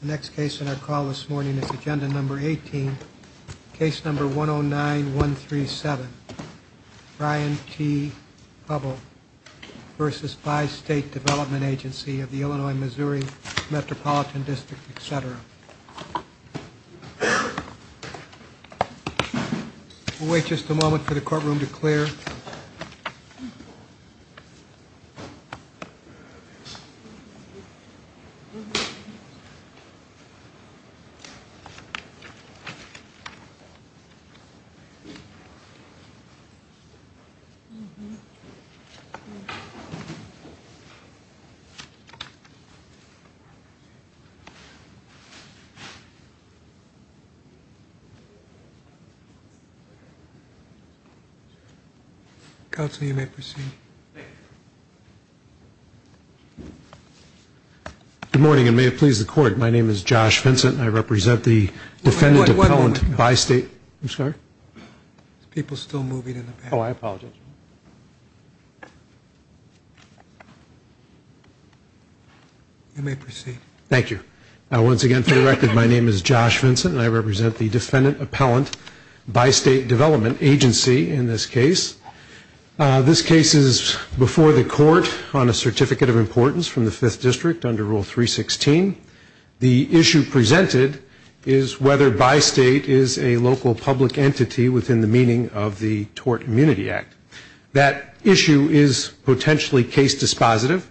The next case in our call this morning is Agenda Number 18, Case Number 109-137, Brian T. Hubbell v. Bi-State Development Agency of the Illinois-Missouri Metropolitan District, etc. We'll wait just a moment for the courtroom to clear. Good morning, and may it please the Court, my name is Josh Vincent, and I represent the defendant appellant Bi-State, I'm sorry? People still moving in the back. Oh, I apologize. You may proceed. Thank you. Once again, for the record, my name is Josh Vincent, and I represent the defendant appellant Bi-State Development Agency in this case. This case is before the Court on a Certificate of Importance from the Fifth District under Rule 316. The issue presented is whether Bi-State is a local public entity within the meaning of the Tort Immunity Act. That issue is potentially case dispositive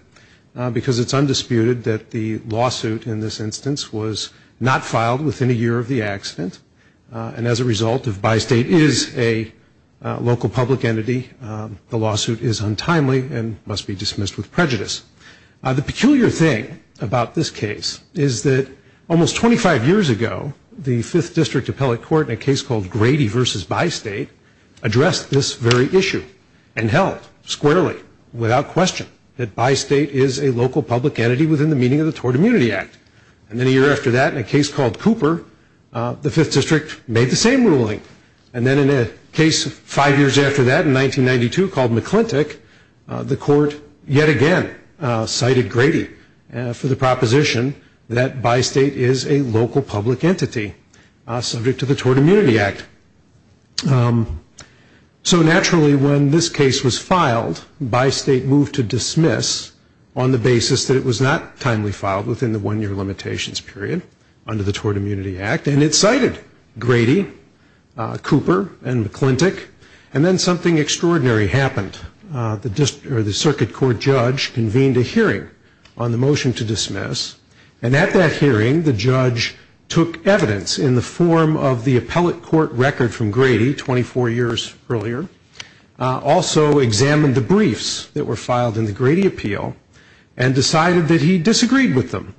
because it's undisputed that the lawsuit in this instance was not filed within a year of the accident, and as a result, if Bi-State is a local public entity, the lawsuit is untimely and must be dismissed with prejudice. The peculiar thing about this case is that almost 25 years ago, the Fifth District Appellate Court, in a case called Grady v. Bi-State, addressed this very issue and held squarely, without question, that Bi-State is a local public entity within the meaning of the Tort Immunity Act. And then a year after that, in a case called Cooper, the Fifth District made the same ruling. And then in a case five years after that, in 1992, called McClintic, the Court yet again cited Grady for the proposition that Bi-State is a local public entity subject to the Tort Immunity Act. So naturally, when this case was filed, Bi-State moved to dismiss on the basis that it was not timely filed within the one-year limitations period under the Tort Immunity Act, and it cited Grady, Cooper, and McClintic. And then something extraordinary happened. The Circuit Court judge convened a hearing on the motion to dismiss. And at that hearing, the judge took evidence in the form of the appellate court record from Grady 24 years earlier, also examined the briefs that were filed in the Grady appeal, and decided that he disagreed with them,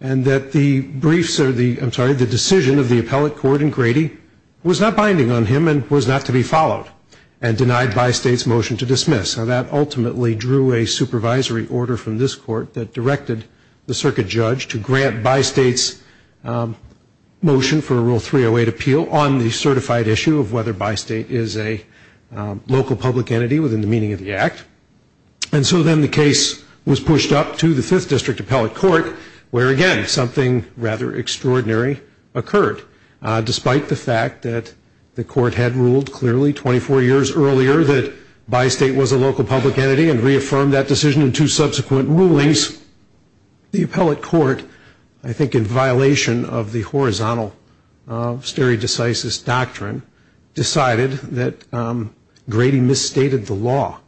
and that the decision of the appellate court in Grady was not binding on him and was not to be followed, and denied Bi-State's motion to dismiss. Now, that ultimately drew a supervisory order from this court that directed the circuit judge to grant Bi-State's motion for a Rule 308 appeal on the certified issue of whether Bi-State is a local public entity within the meaning of the act. And so then the case was pushed up to the Fifth District Appellate Court, where again, something rather extraordinary occurred. Despite the fact that the court had ruled clearly 24 years earlier that Bi-State was a local public entity and reaffirmed that decision in two subsequent rulings, the appellate court, I think in violation of the horizontal stare decisis doctrine, decided that Grady misstated the law.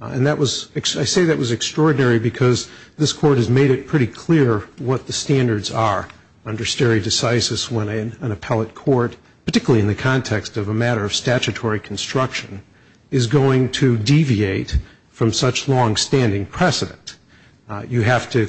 And I say that was extraordinary because this court has made it pretty clear what the standards are under stare decisis when an appellate court, particularly in the context of a matter of statutory construction, is going to deviate from such longstanding precedent. You have to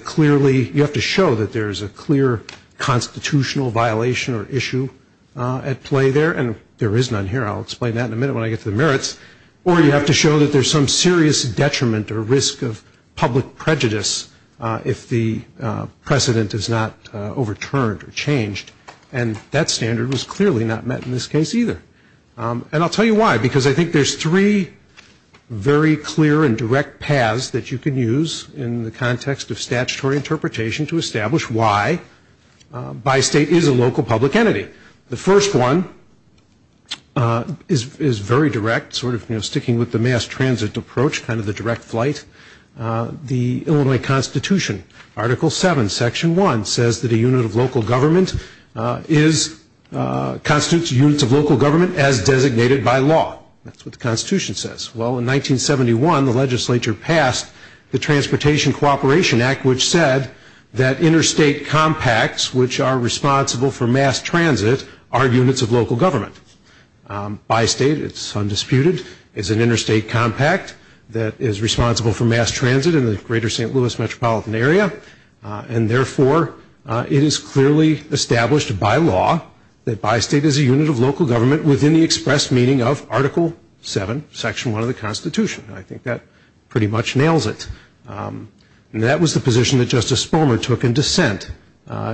show that there is a clear constitutional violation or issue at play there, and there is none here. I'll explain that in a minute when I get to the merits. Or you have to show that there's some serious detriment or risk of public prejudice if the precedent is not overturned or changed. And that standard was clearly not met in this case either. And I'll tell you why. Because I think there's three very clear and direct paths that you can use in the context of statutory interpretation to establish why Bi-State is a local public entity. The first one is very direct, sort of sticking with the mass transit approach, kind of the direct flight. The Illinois Constitution, Article 7, Section 1, says that a unit of local government is a constitutional unit of local government as designated by law. That's what the Constitution says. Well, in 1971, the legislature passed the Transportation Cooperation Act, which said that interstate compacts, which are responsible for mass transit, are units of local government. Bi-State, it's undisputed, is an interstate compact that is responsible for mass transit in the greater St. Louis metropolitan area. And therefore, it is clearly established by law that Bi-State is a unit of local government within the expressed meaning of Article 7, Section 1 of the Constitution. I think that pretty much nails it. And that was the position that Justice Sperlman took in dissent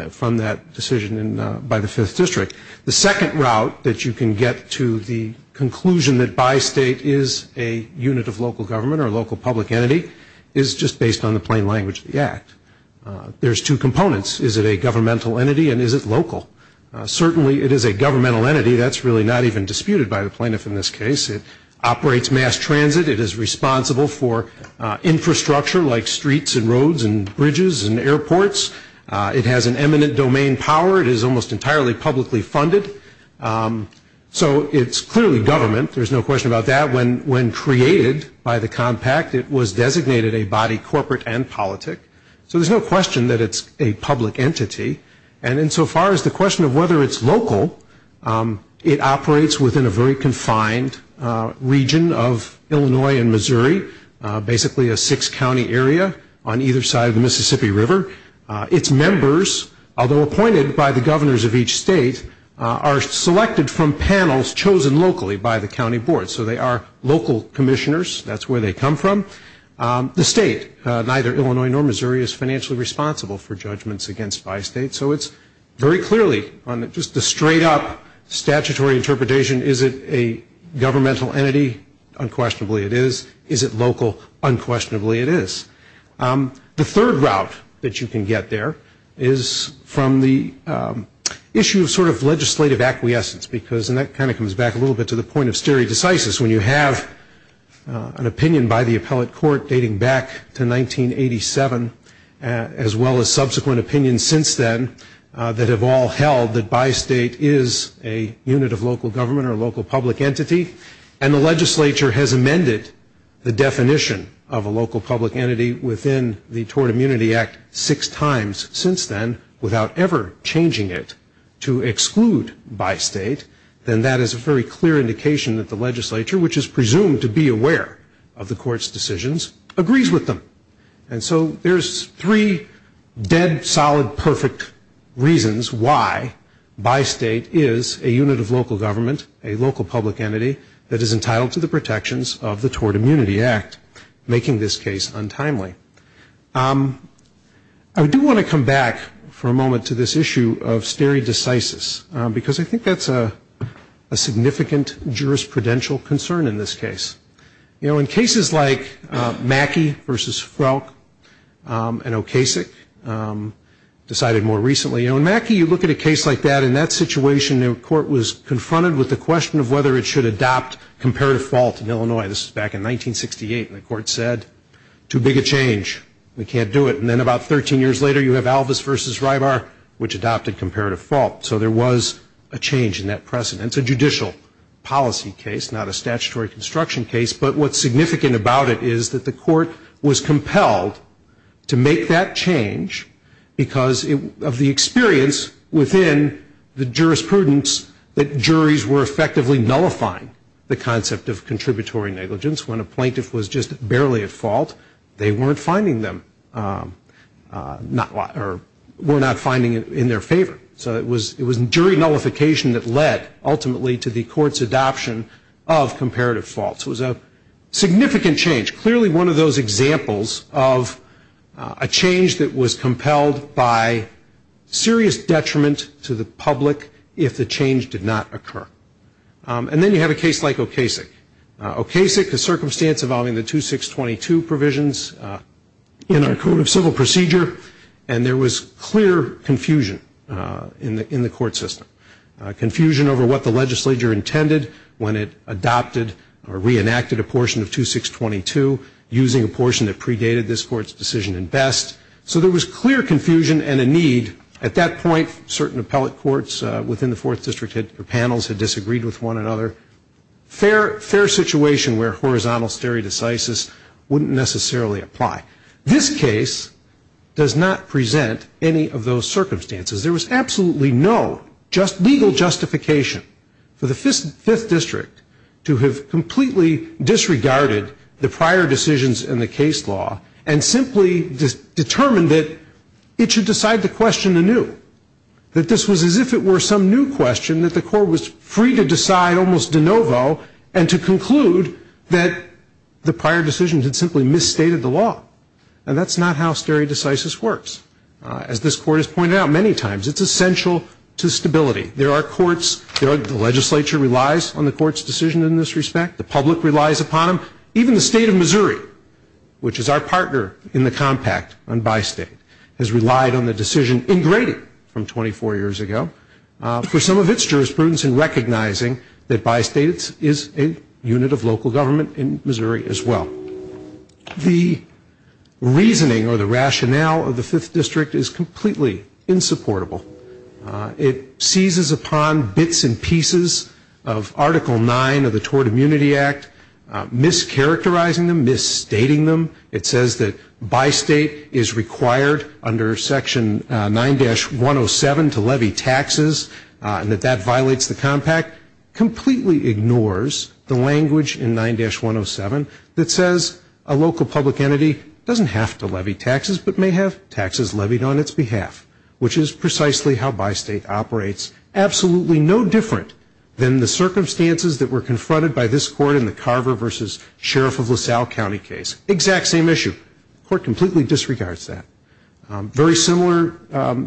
from that decision by the Fifth District. The second route that you can get to the conclusion that Bi-State is a unit of local government or a local public entity is just based on the plain language of the Act. There's two components. Is it a governmental entity and is it local? Certainly it is a governmental entity. That's really not even disputed by the plaintiff in this case. It operates mass transit. It is responsible for infrastructure like streets and roads and bridges and airports. It has an eminent domain power. It is almost entirely publicly funded. So it's clearly government. There's no question about that. When created by the compact, it was designated a body corporate and politic. So there's no question that it's a public entity. And insofar as the question of whether it's local, it operates within a very confined region of Illinois and Missouri, basically a six-county area on either side of the Mississippi River. Its members, although appointed by the governors of each state, are selected from panels chosen locally by the county board. So they are local commissioners. That's where they come from. The state, neither Illinois nor Missouri, is financially responsible for judgments against Bi-State. So it's very clearly on just the straight-up statutory interpretation, is it a governmental entity? Unquestionably, it is. Is it local? Unquestionably, it is. The third route that you can get there is from the issue of sort of legislative acquiescence because, and that kind of comes back a little bit to the point of stare decisis, when you have an opinion by the appellate court dating back to 1987, as well as subsequent opinions since then that have all held that Bi-State is a unit of local government or a local public entity, and the legislature has amended the definition of a local public entity within the Tort Immunity Act six times since then without ever changing it to exclude Bi-State, then that is a very clear indication that the legislature, which is presumed to be aware of the court's decisions, agrees with them. And so there's three dead, solid, perfect reasons why Bi-State is a unit of local government, a local public entity that is entitled to the protections of the Tort Immunity Act, making this case untimely. I do want to come back for a moment to this issue of stare decisis because I think that's a significant jurisprudential concern in this case. You know, in cases like Mackey v. Frelk and Okasik, decided more recently, you know, in Mackey you look at a case like that, in that situation the court was confronted with the question of whether it should adopt comparative fault in Illinois. This was back in 1968 and the court said, too big a change, we can't do it. And then about 13 years later you have Alvis v. Rybar, which adopted comparative fault. So there was a change in that precedent. It's a judicial policy case, not a statutory construction case, but what's significant about it is that the court was compelled to make that change because of the experience within the jurisprudence that juries were effectively nullifying the concept of contributory negligence when a plaintiff was just barely at fault. They weren't finding them, or were not finding it in their favor. So it was jury nullification that led, ultimately, to the court's adoption of comparative fault. So it was a significant change, clearly one of those examples of a change that was compelled by serious detriment to the public if the change did not occur. And then you have a case like Okasik. Okasik, a circumstance involving the 2622 provisions in our Code of Civil Procedure, and there was clear confusion in the court system. Confusion over what the legislature intended when it adopted or reenacted a portion of 2622, using a portion that predated this court's decision at best. So there was clear confusion and a need. At that point, certain appellate courts within the 4th District had, or panels, had disagreed with one another. Fair situation where horizontal stare decisis wouldn't necessarily apply. This case does not present any of those circumstances. There was absolutely no legal justification for the 5th District to have completely disregarded the prior decisions in the case law, and simply determined that it should decide the question anew. That this was as if it were some new question that the court was free to decide almost de And that's not how stare decisis works. As this court has pointed out many times, it's essential to stability. There are courts, the legislature relies on the court's decision in this respect. The public relies upon them. Even the State of Missouri, which is our partner in the compact on Bi-State, has relied on the decision in Grady from 24 years ago for some of its jurisprudence in recognizing that Bi-State is a unit of local government in Missouri as well. The reasoning or the rationale of the 5th District is completely insupportable. It seizes upon bits and pieces of Article 9 of the Tort Immunity Act, mischaracterizing them, misstating them. It says that Bi-State is required under Section 9-107 to levy taxes, and that that violates the compact, completely ignores the language in 9-107 that says a local public entity doesn't have to levy taxes, but may have taxes levied on its behalf, which is precisely how Bi-State operates, absolutely no different than the circumstances that were confronted by this court in the Carver v. Sheriff of LaSalle County case. Exact same issue. Court completely disregards that. Very similar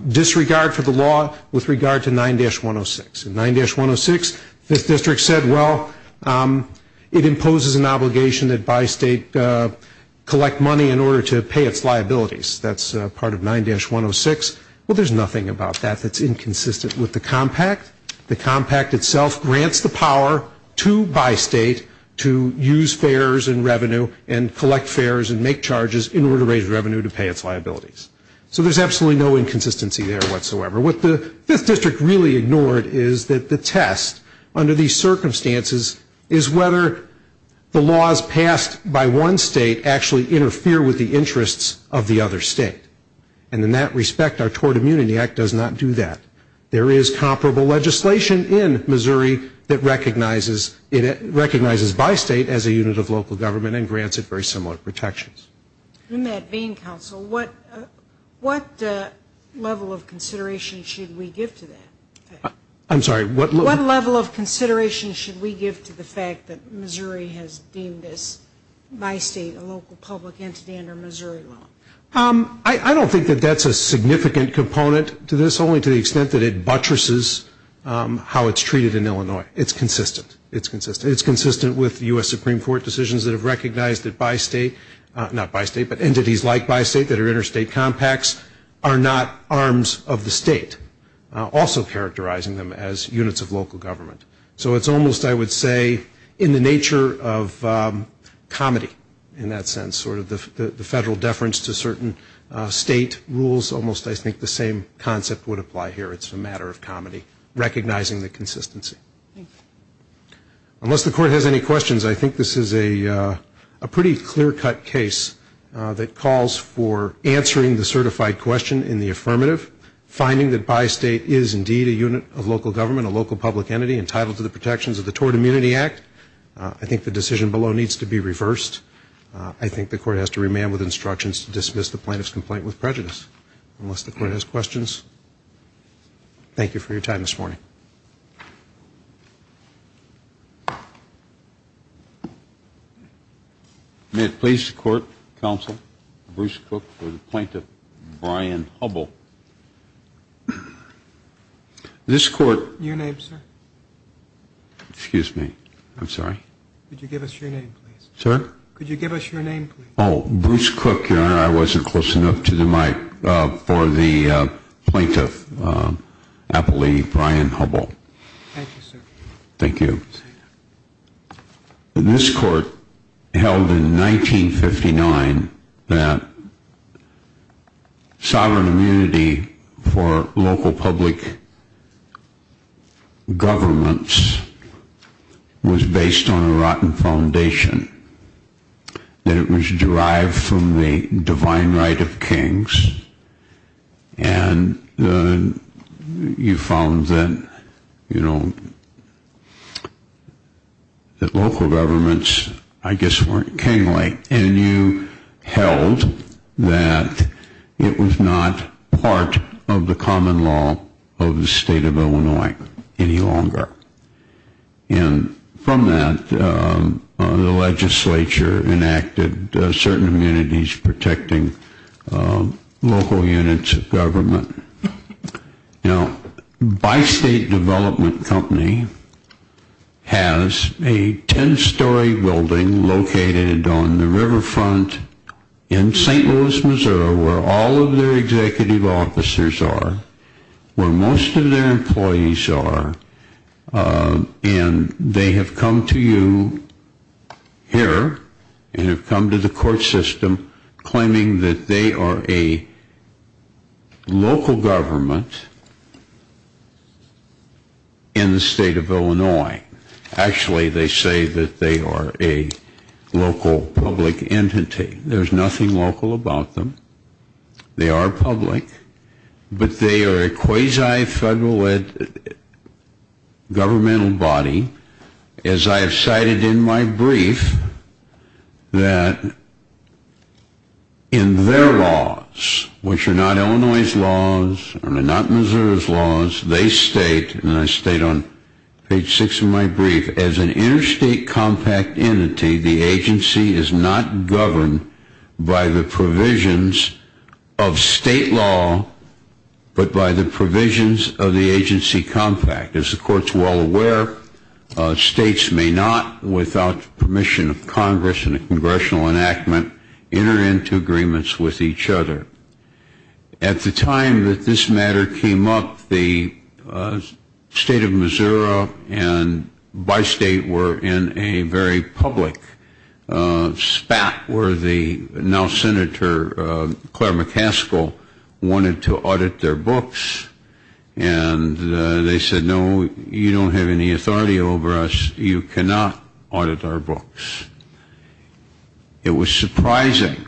disregard for the law with regard to 9-106. In 9-106, the 5th District said, well, it imposes an obligation that Bi-State collect money in order to pay its liabilities. That's part of 9-106. Well, there's nothing about that that's inconsistent with the compact. The compact itself grants the power to Bi-State to use fares and revenue and collect fares and make charges in order to raise revenue to pay its liabilities. So there's absolutely no inconsistency there whatsoever. What the 5th District really ignored is that the test under these circumstances is whether the laws passed by one state actually interfere with the interests of the other state. And in that respect, our Tort Immunity Act does not do that. There is comparable legislation in Missouri that recognizes Bi-State as a unit of local government and grants it very similar protections. In that being, counsel, what level of consideration should we give to that? I'm sorry, what level of consideration should we give to the fact that Missouri has deemed this Bi-State a local public entity under Missouri law? I don't think that that's a significant component to this, only to the extent that it buttresses how it's treated in Illinois. It's consistent. It's consistent. It's consistent with U.S. Supreme Court decisions that have recognized that Bi-State, not Bi-State, but entities like Bi-State that are interstate compacts are not arms of the state, also characterizing them as units of local government. So it's almost, I would say, in the nature of comedy in that sense, sort of the federal deference to certain state rules. Almost I think the same concept would apply here. It's a matter of comedy, recognizing the consistency. Unless the court has any questions, I think this is a pretty clear-cut case that calls for answering the certified question in the affirmative, finding that Bi-State is indeed a unit of local government, a local public entity entitled to the protections of the Tort Immunity Act. I think the decision below needs to be reversed. I think the court has to remand with instructions to dismiss the plaintiff's complaint with prejudice. Unless the court has questions, thank you for your time this morning. May it please the court, counsel, Bruce Cook for the plaintiff, Brian Hubbell. This court Your name, sir? Excuse me. I'm sorry. Could you give us your name, please? Sir? Could you give us your name, please? Oh, Bruce Cook, Your Honor. I wasn't close enough to the mic for the plaintiff, I believe, Brian Hubbell. Thank you, sir. Thank you. This court held in 1959 that sovereign immunity for local public governments was based on a rotten foundation, that it was derived from the divine right of kings, and you found that, you know, that local governments, I guess, weren't kingly. And you held that it was not part of the common law of the state of Illinois any longer. And from that, the legislature enacted certain immunities protecting local units of government. Now, Bi-State Development Company has a ten-story building located on the riverfront in St. Louis, Missouri, where all of their executive officers are, where most of their employees are, and they have come to you here, and have come to the court system, claiming that they are a local government in the state of Illinois. Actually, they say that they are a local public entity. There's nothing local about them. They are public. But they are a quasi-federal governmental body. As I have cited in my brief, that in their laws, which are not Illinois' laws, and are not Missouri's laws, they state, and I state on page six of my brief, as an interstate compact entity, the agency is not governed by the provisions of state law, but by the provisions of the agency compact. As the court is well aware, states may not, without permission of Congress and a congressional enactment, enter into agreements with each other. At the time that this matter came up, the state of Missouri and Bi-State were in a very public spat, where the now-Senator Claire McCaskill wanted to audit their books, and they said, no, you don't have any authority over us. You cannot audit our books. It was surprising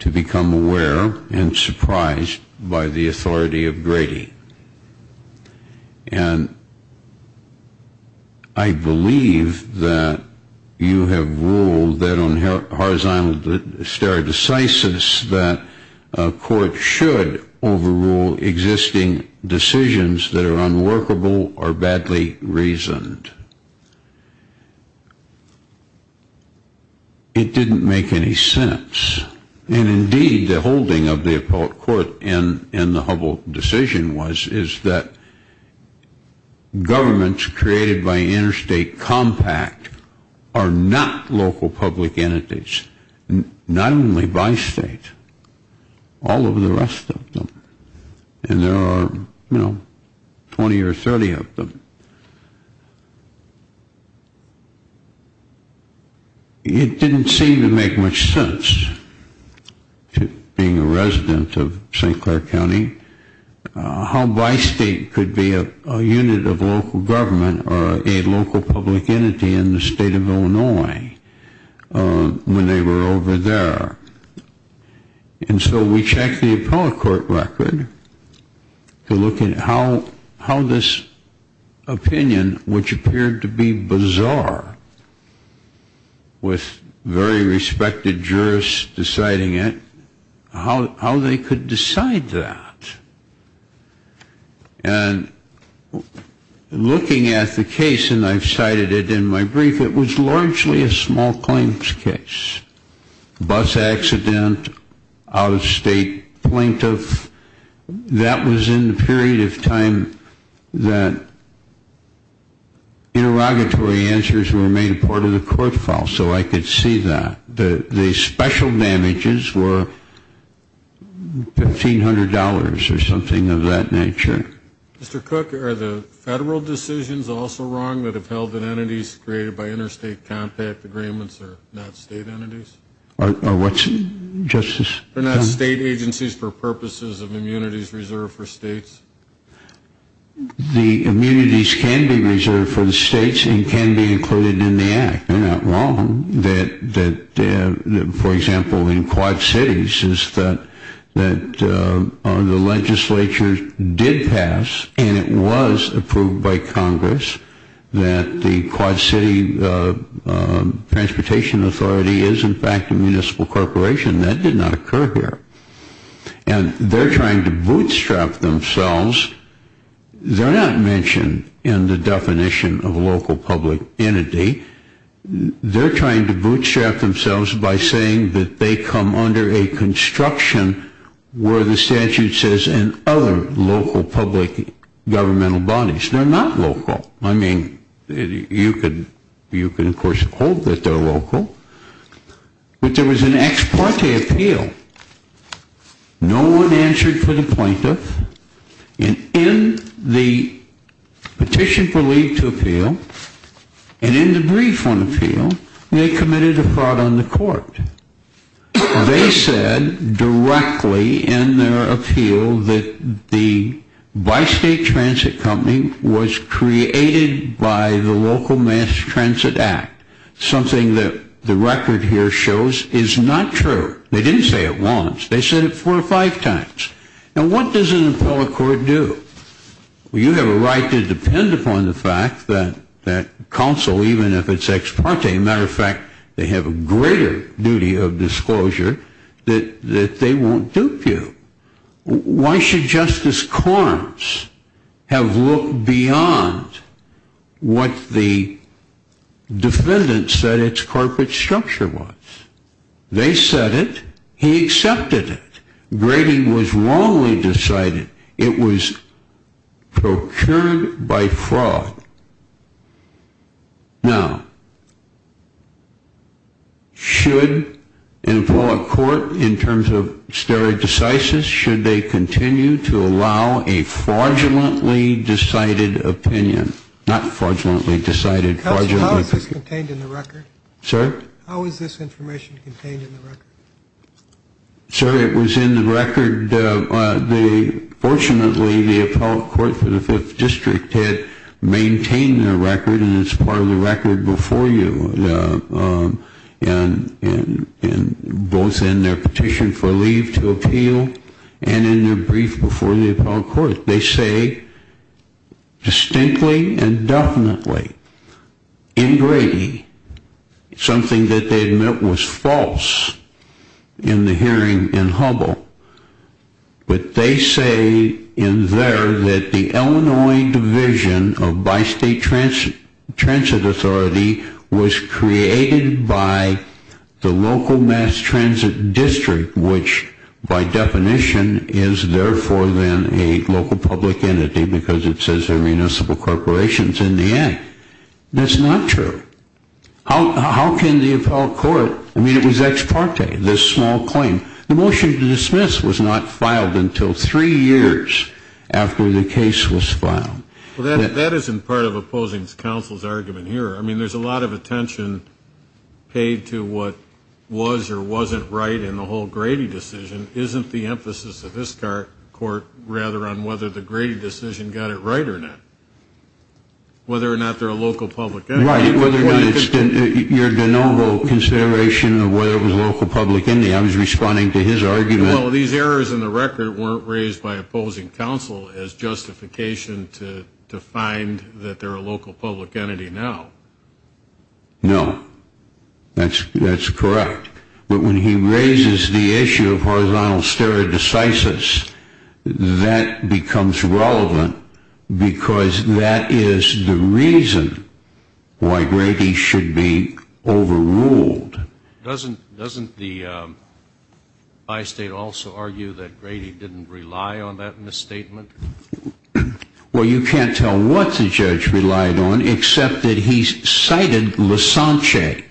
to become aware and surprised by the authority of Grady. And I believe that you have ruled that on horizontal stare decisis that a court should overrule existing decisions that are unworkable or badly reasoned. It didn't make any sense. And indeed, the holding of the appellate court in the Hubble decision was, is that governments created by interstate compact are not local public entities, not only Bi-State, all of the rest of them. And there are, you know, 20 or 30 of them. It didn't seem to make much sense, being a resident of St. Clair County, how Bi-State could be a unit of local government or a local public entity in the state of Illinois when they were over there. And so we checked the appellate court record to look at how this opinion, which appeared to be bizarre, with very respected jurists deciding it, how they could decide that. And looking at the case, and I've cited it in my brief, it was largely a small claims case. Bus accident, out-of-state plaintiff, that was in the period of time that interrogatory answers were made part of the court file. So I could see that. The special damages were $1,500 or something of that nature. Mr. Cook, are the federal decisions also wrong that have held that entities created by interstate compact agreements are not state entities? Or what's, Justice? They're not state agencies for purposes of immunities reserved for states? The immunities can be reserved for the states and can be included in the act. They're not wrong. That, for example, in Quad Cities is that the legislature did pass, and it was approved by Congress, that the Quad City Transportation Authority is, in fact, a municipal corporation. That did not occur here. And they're trying to bootstrap themselves. They're not mentioned in the definition of local public entity. They're trying to bootstrap themselves by saying that they come under a construction where the statute says, and other local public governmental bodies. They're not local. I mean, you can, of course, hold that they're local. But there was an ex parte appeal. No one answered for the plaintiff. And in the petition for leave to appeal, and in the brief on appeal, they committed a fraud on the court. They said directly in their appeal that the bi-state transit company was created by the Local Mass Transit Act, something that the record here shows is not true. They didn't say it once. They said it four or five times. And what does an appellate court do? Well, you have a right to depend upon the fact that counsel, even if it's ex parte, as a matter of fact, they have a greater duty of disclosure that they won't dupe you. Why should Justice Carnes have looked beyond what the defendants said its corporate structure was? They said it. He accepted it. Grading was wrongly decided. It was procured by fraud. Now, should an appellate court, in terms of stare decisis, should they continue to allow a fraudulently decided opinion? Not fraudulently decided. How is this contained in the record? Sir? How is this information contained in the record? Sir, it was in the record. Fortunately, the appellate court for the 5th District had maintained the record and it's part of the record before you, both in their petition for leave to appeal and in their brief before the appellate court. They say, distinctly and definitely, in Grady, something that they admit was false in the hearing in Hubble, but they say in there that the Illinois Division of Bi-State Transit Authority was created by the local mass transit district, which, by definition, is therefore then a local public entity because it says they're municipal corporations in the end. That's not true. How can the appellate court, I mean, it was ex parte, this small claim. The motion to dismiss was not filed until three years after the case was filed. Well, that isn't part of opposing counsel's argument here. I mean, there's a lot of attention paid to what was or wasn't right in the whole Grady decision isn't the emphasis of this court rather on whether the Grady decision got it right or not. Whether or not they're a local public entity. Right, whether or not it's your de novo consideration of whether it was a local public entity. I was responding to his argument. Well, these errors in the record weren't raised by opposing counsel as justification to find that they're a local public entity now. No, that's correct. But when he raises the issue of horizontal stereo-decisus, that becomes relevant because that is the reason why Grady should be overruled. Doesn't the by-state also argue that Grady didn't rely on that misstatement? Well, you can't tell what the judge relied on except that he cited Lascance,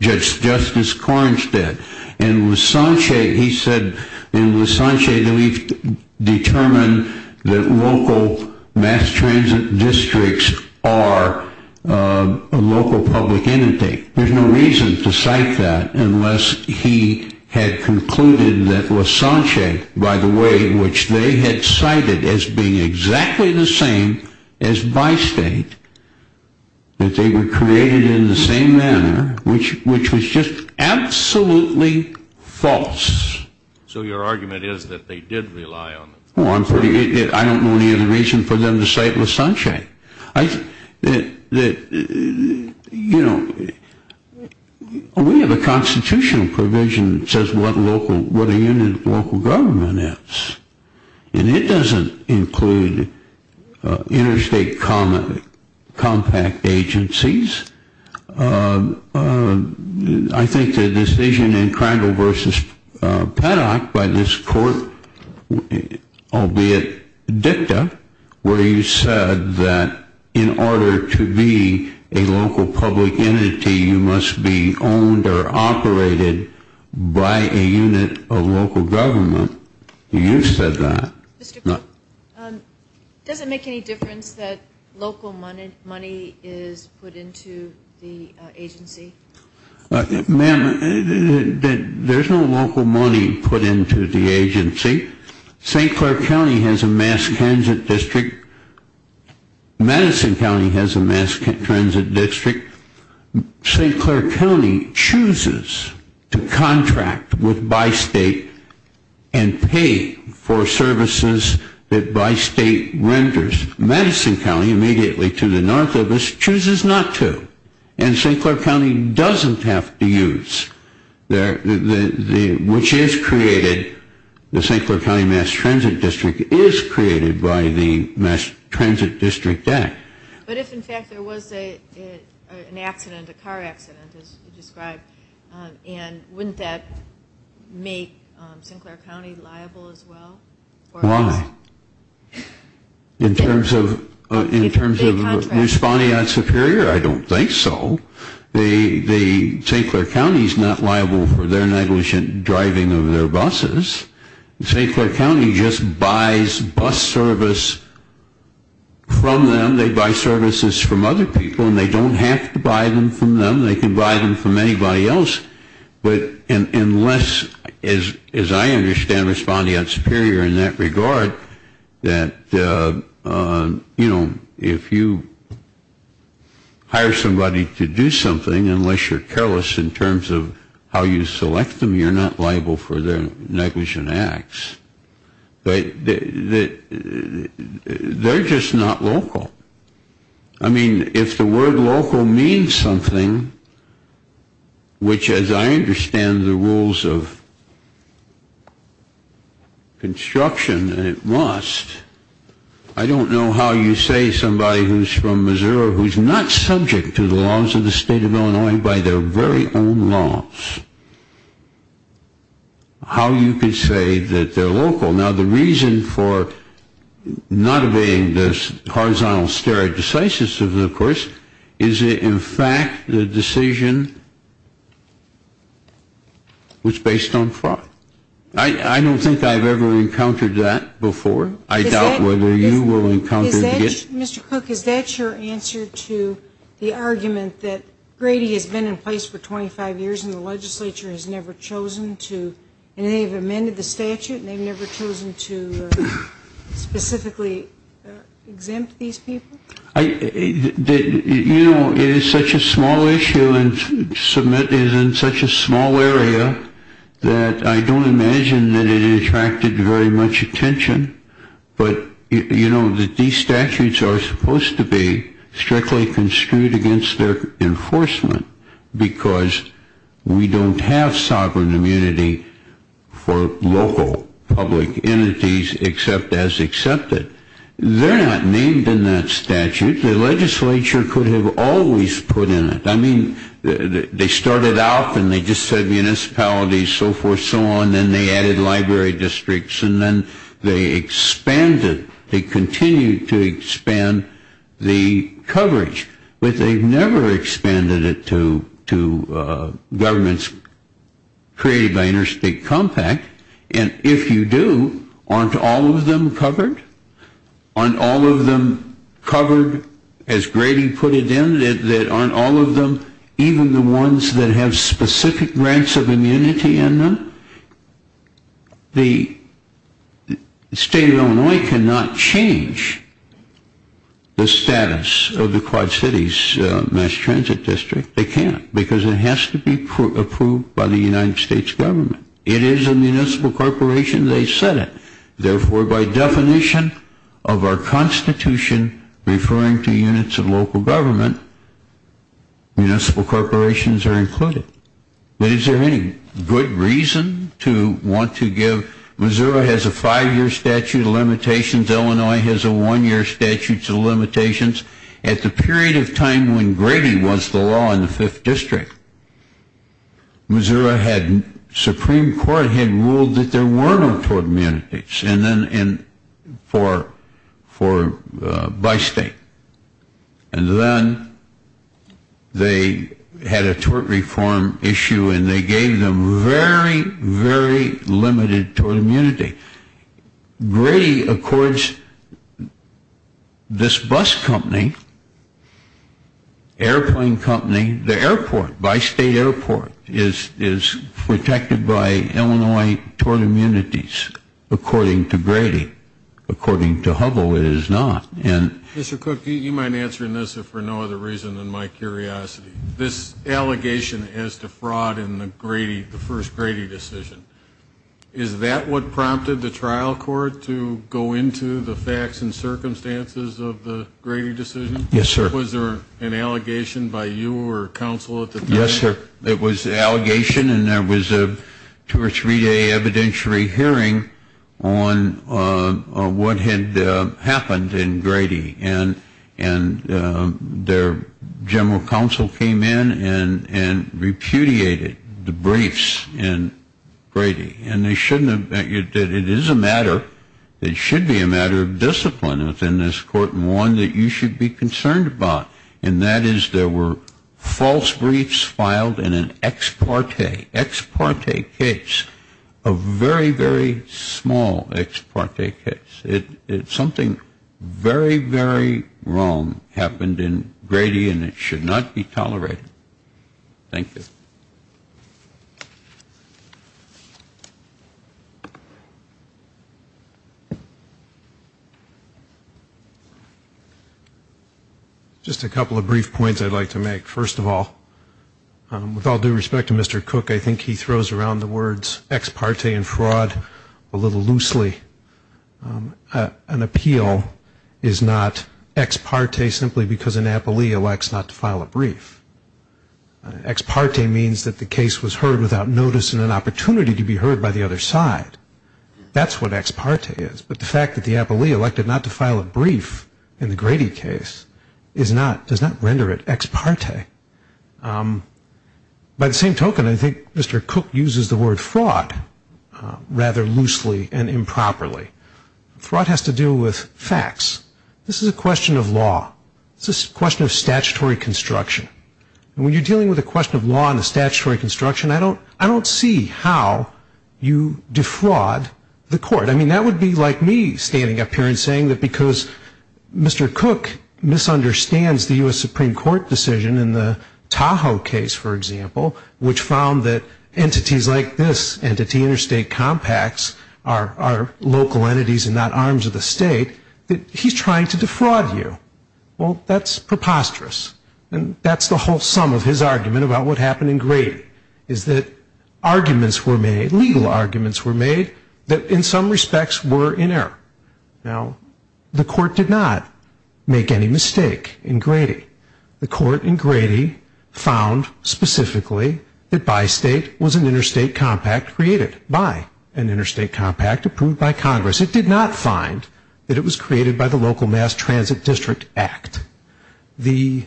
just as Correns did. And Lascance, he said in Lascance that we've determined that local mass transit districts are a local public entity. There's no reason to cite that unless he had concluded that Lascance, by the way, which they had cited as being exactly the same as by-state, that they were created in the same manner, which was just absolutely false. So your argument is that they did rely on Lascance? Well, I don't know any other reason for them to cite Lascance. We have a constitutional provision that says what a unit of local government is. And it doesn't include interstate compact agencies. I think the decision in Crandall v. Paddock by this court, albeit dicta, where he said that in order to be a local public entity, you must be owned or operated by a unit of local government, you said that. Mr. Cooper, does it make any difference that local money is put into the agency? Ma'am, there's no local money put into the agency. St. Clair County has a mass transit district. Madison County has a mass transit district. St. Clair County chooses to contract with by-state and pay for services that by-state renders. Madison County, immediately to the north of us, chooses not to. And St. Clair County doesn't have to use, which is created, the St. Clair County mass transit district is created by the Mass Transit District Act. But if, in fact, there was an accident, a car accident, as you described, wouldn't that make St. Clair County liable as well? Why? In terms of responding on Superior, I don't think so. St. Clair County is not liable for their negligent driving of their buses. St. Clair County just buys bus service from them. They buy services from other people, and they don't have to buy them from them. They can buy them from anybody else. But unless, as I understand responding on Superior in that regard, that, you know, if you hire somebody to do something, unless you're careless in terms of how you select them, you're not liable for their negligent acts. But they're just not local. I mean, if the word local means something, which, as I understand the rules of construction, it must, I don't know how you say somebody who's from Missouri, who's not subject to the laws of the State of Illinois by their very own laws, how you can say that they're local. Now, the reason for not obeying the horizontal stare decisis of the courts is that, in fact, the decision was based on fraud. I don't think I've ever encountered that before. I doubt whether you will encounter it again. Mr. Cook, is that your answer to the argument that Grady has been in place for 25 years and the legislature has never chosen to, and they've amended the statute and they've never chosen to specifically exempt these people? You know, it is such a small issue and is in such a small area that I don't imagine that it attracted very much attention. But, you know, these statutes are supposed to be strictly construed against their enforcement because we don't have sovereign immunity for local public entities except as accepted. They're not named in that statute. The legislature could have always put in it. I mean, they started off and they just said municipalities, so forth, so on, and then they added library districts, and then they expanded, they continued to expand the coverage, but they've never expanded it to governments created by interstate compact. And if you do, aren't all of them covered? Aren't all of them covered, as Grady put it in, aren't all of them, even the ones that have specific grants of immunity in them? The state of Illinois cannot change the status of the Quad Cities Mass Transit District. They can't because it has to be approved by the United States government. It is a municipal corporation. They said it. Therefore, by definition of our Constitution referring to units of local government, municipal corporations are included. But is there any good reason to want to give? Missouri has a five-year statute of limitations. Illinois has a one-year statute of limitations. At the period of time when Grady was the law in the 5th District, Missouri had, the Supreme Court had ruled that there were no tort immunities, and then for, for, by state. And then they had a tort reform issue, and they gave them very, very limited tort immunity. Grady accords this bus company, airplane company, the airport, by state airport is protected by Illinois tort immunities, according to Grady. According to Hovell, it is not. Mr. Cook, you might answer this for no other reason than my curiosity. This allegation as to fraud in the Grady, the first Grady decision, is that what prompted the trial court to go into the facts and circumstances of the Grady decision? Yes, sir. Was there an allegation by you or counsel at the time? Yes, sir. It was an allegation, and there was a two- or three-day evidentiary hearing on what had happened in Grady. And their general counsel came in and repudiated the briefs in Grady. And they shouldn't have, it is a matter, it should be a matter of discipline within this court, and one that you should be concerned about, and that is there were false briefs filed in an ex parte, ex parte case, a very, very small ex parte case. Something very, very wrong happened in Grady, and it should not be tolerated. Thank you. Just a couple of brief points I'd like to make. First of all, with all due respect to Mr. Cook, I think he throws around the words ex parte and fraud a little loosely. An appeal is not ex parte simply because an appellee elects not to file a brief. Ex parte means that the case was heard without notice and an opportunity to be heard by the other side. That's what ex parte is. But the fact that the appellee elected not to file a brief in the Grady case does not render it ex parte. By the same token, I think Mr. Cook uses the word fraud rather loosely and improperly. Fraud has to do with facts. This is a question of law. It's a question of statutory construction. And when you're dealing with a question of law and a statutory construction, I don't see how you defraud the court. That would be like me standing up here and saying that because Mr. Cook misunderstands the U.S. Supreme Court decision in the Tahoe case, for example, which found that entities like this, entity interstate compacts, are local entities and not arms of the state, that he's trying to defraud you. That's preposterous. That's the whole sum of his argument about what happened in Grady, is that arguments were made, legal arguments were made, that in some respects were in error. Now, the court did not make any mistake in Grady. The court in Grady found specifically that Bi-State was an interstate compact created by an interstate compact approved by Congress. It did not find that it was created by the Local Mass Transit District Act. I think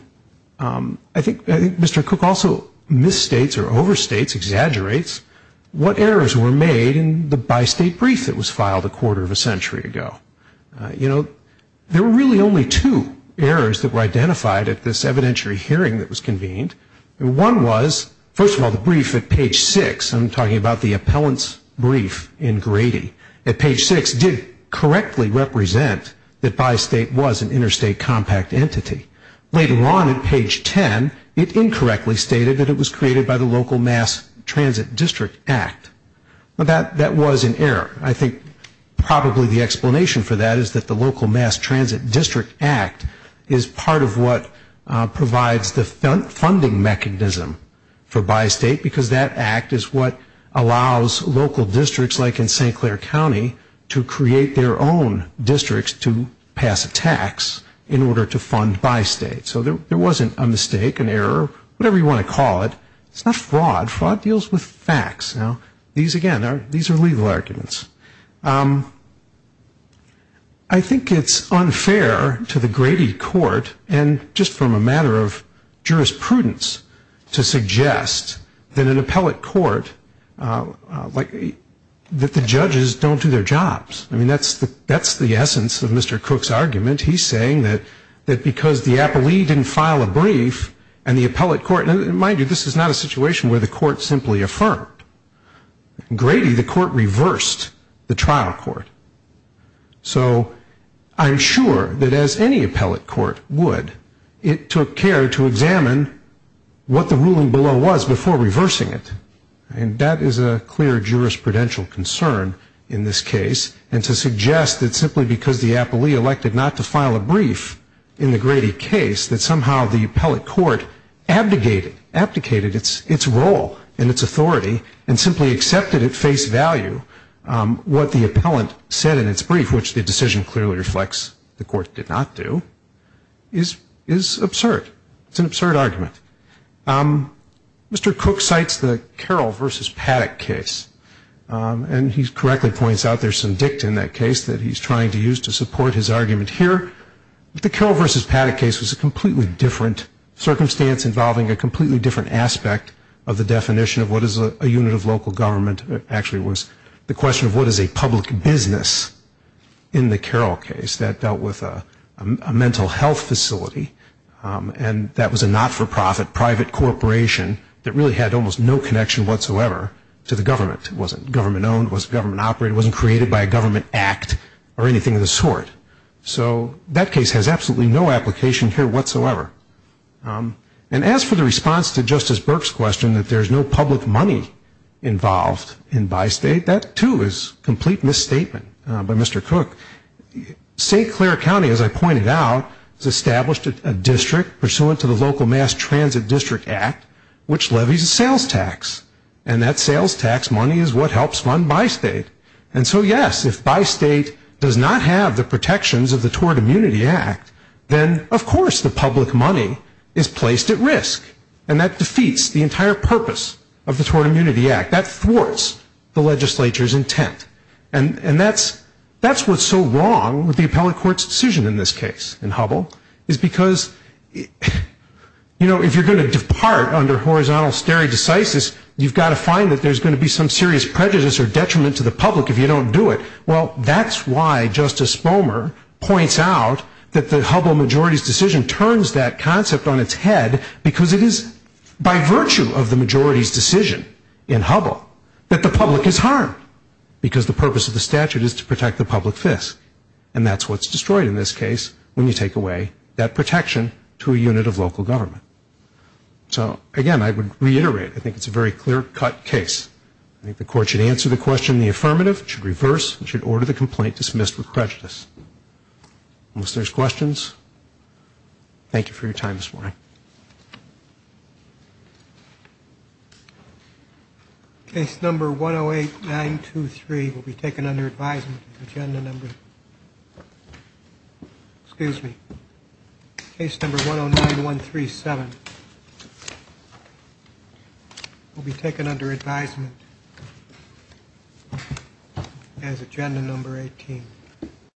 Mr. Cook also misstates or overstates, exaggerates, what errors were made in the Bi-State brief that was filed a quarter of a century ago. You know, there were really only two errors that were identified at this evidentiary hearing that was convened. One was, first of all, the brief at page 6, I'm talking about the appellant's brief in Grady, at page 6 did correctly represent that Bi-State was an interstate compact entity. Later on at page 10, it incorrectly stated that it was created by the Local Mass Transit District Act. That was an error. I think probably the explanation for that is that the Local Mass Transit District Act is part of what provides the funding mechanism for Bi-State, because that act is what allows local districts, like in St. Clair County, to create their own districts to pass a tax in order to fund Bi-State. So there wasn't a mistake, an error, whatever you want to call it. It's not fraud. Fraud deals with facts. Now, these again, these are legal arguments. I think it's unfair to the Grady court, and just from a matter of jurisprudence, to suggest that an appellate court, that the judges don't do their jobs. I mean, that's the essence of Mr. Cook's argument. He's saying that because the appellee didn't file a brief, and the appellate court, and mind you, this is not a situation where the court simply affirmed. In Grady, the court reversed the trial court. So I'm sure that as any appellate court would, it took care to examine what the ruling below was before reversing it, and that is a clear jurisprudential concern in this case, and to suggest that simply because the appellee elected not to file a brief in the Grady case, that somehow the appellate court abdicated its role and its authority, and simply accepted at face value what the appellant said in its brief, which the decision clearly reflects the court did not do, is absurd. It's an absurd argument. Mr. Cook cites the Carroll v. Paddock case, and he correctly points out there's some dict in that case that he's trying to use to support his argument here. The Carroll v. Paddock case was a completely different circumstance, involving a completely different aspect of the definition of what is a unit of local government. It actually was the question of what is a public business in the Carroll case. That dealt with a mental health facility, and that was a not-for-profit private corporation that really had almost no connection whatsoever to the government. It wasn't government-owned, it wasn't government-operated, it wasn't created by a government act or anything of the sort. So that case has absolutely no application here whatsoever. And as for the response to Justice Burke's question that there's no public money involved in Bi-State, that, too, is a complete misstatement by Mr. Cook. St. Clair County, as I pointed out, has established a district pursuant to the Local Mass Transit District Act, which levies a sales tax. And that sales tax money is what helps fund Bi-State. And so, yes, if Bi-State does not have the protections of the Tort Immunity Act, then, of course, the public money is placed at risk. And that defeats the entire purpose of the Tort Immunity Act. That thwarts the legislature's intent. And that's what's so wrong with the appellate court's decision in this case, in Hubble, is because, you know, if you're going to depart under horizontal stare decisis, you've got to find that there's going to be some serious prejudice or detriment to the public if you don't do it. Well, that's why Justice Bomer points out that the Hubble majority's decision turns that concept on its head because it is by virtue of the majority's decision in Hubble that the public is harmed. Because the purpose of the statute is to protect the public fist. And that's what's destroyed in this case when you take away that protection to a unit of local government. So, again, I would reiterate, I think it's a very clear-cut case. I think the court should answer the question in the affirmative. It should reverse. It should order the complaint dismissed with prejudice. Unless there's questions, thank you for your time this morning. Case number 108-923 will be taken under advisement as agenda number... Excuse me. Case number 109-137 will be taken under advisement as agenda number 18.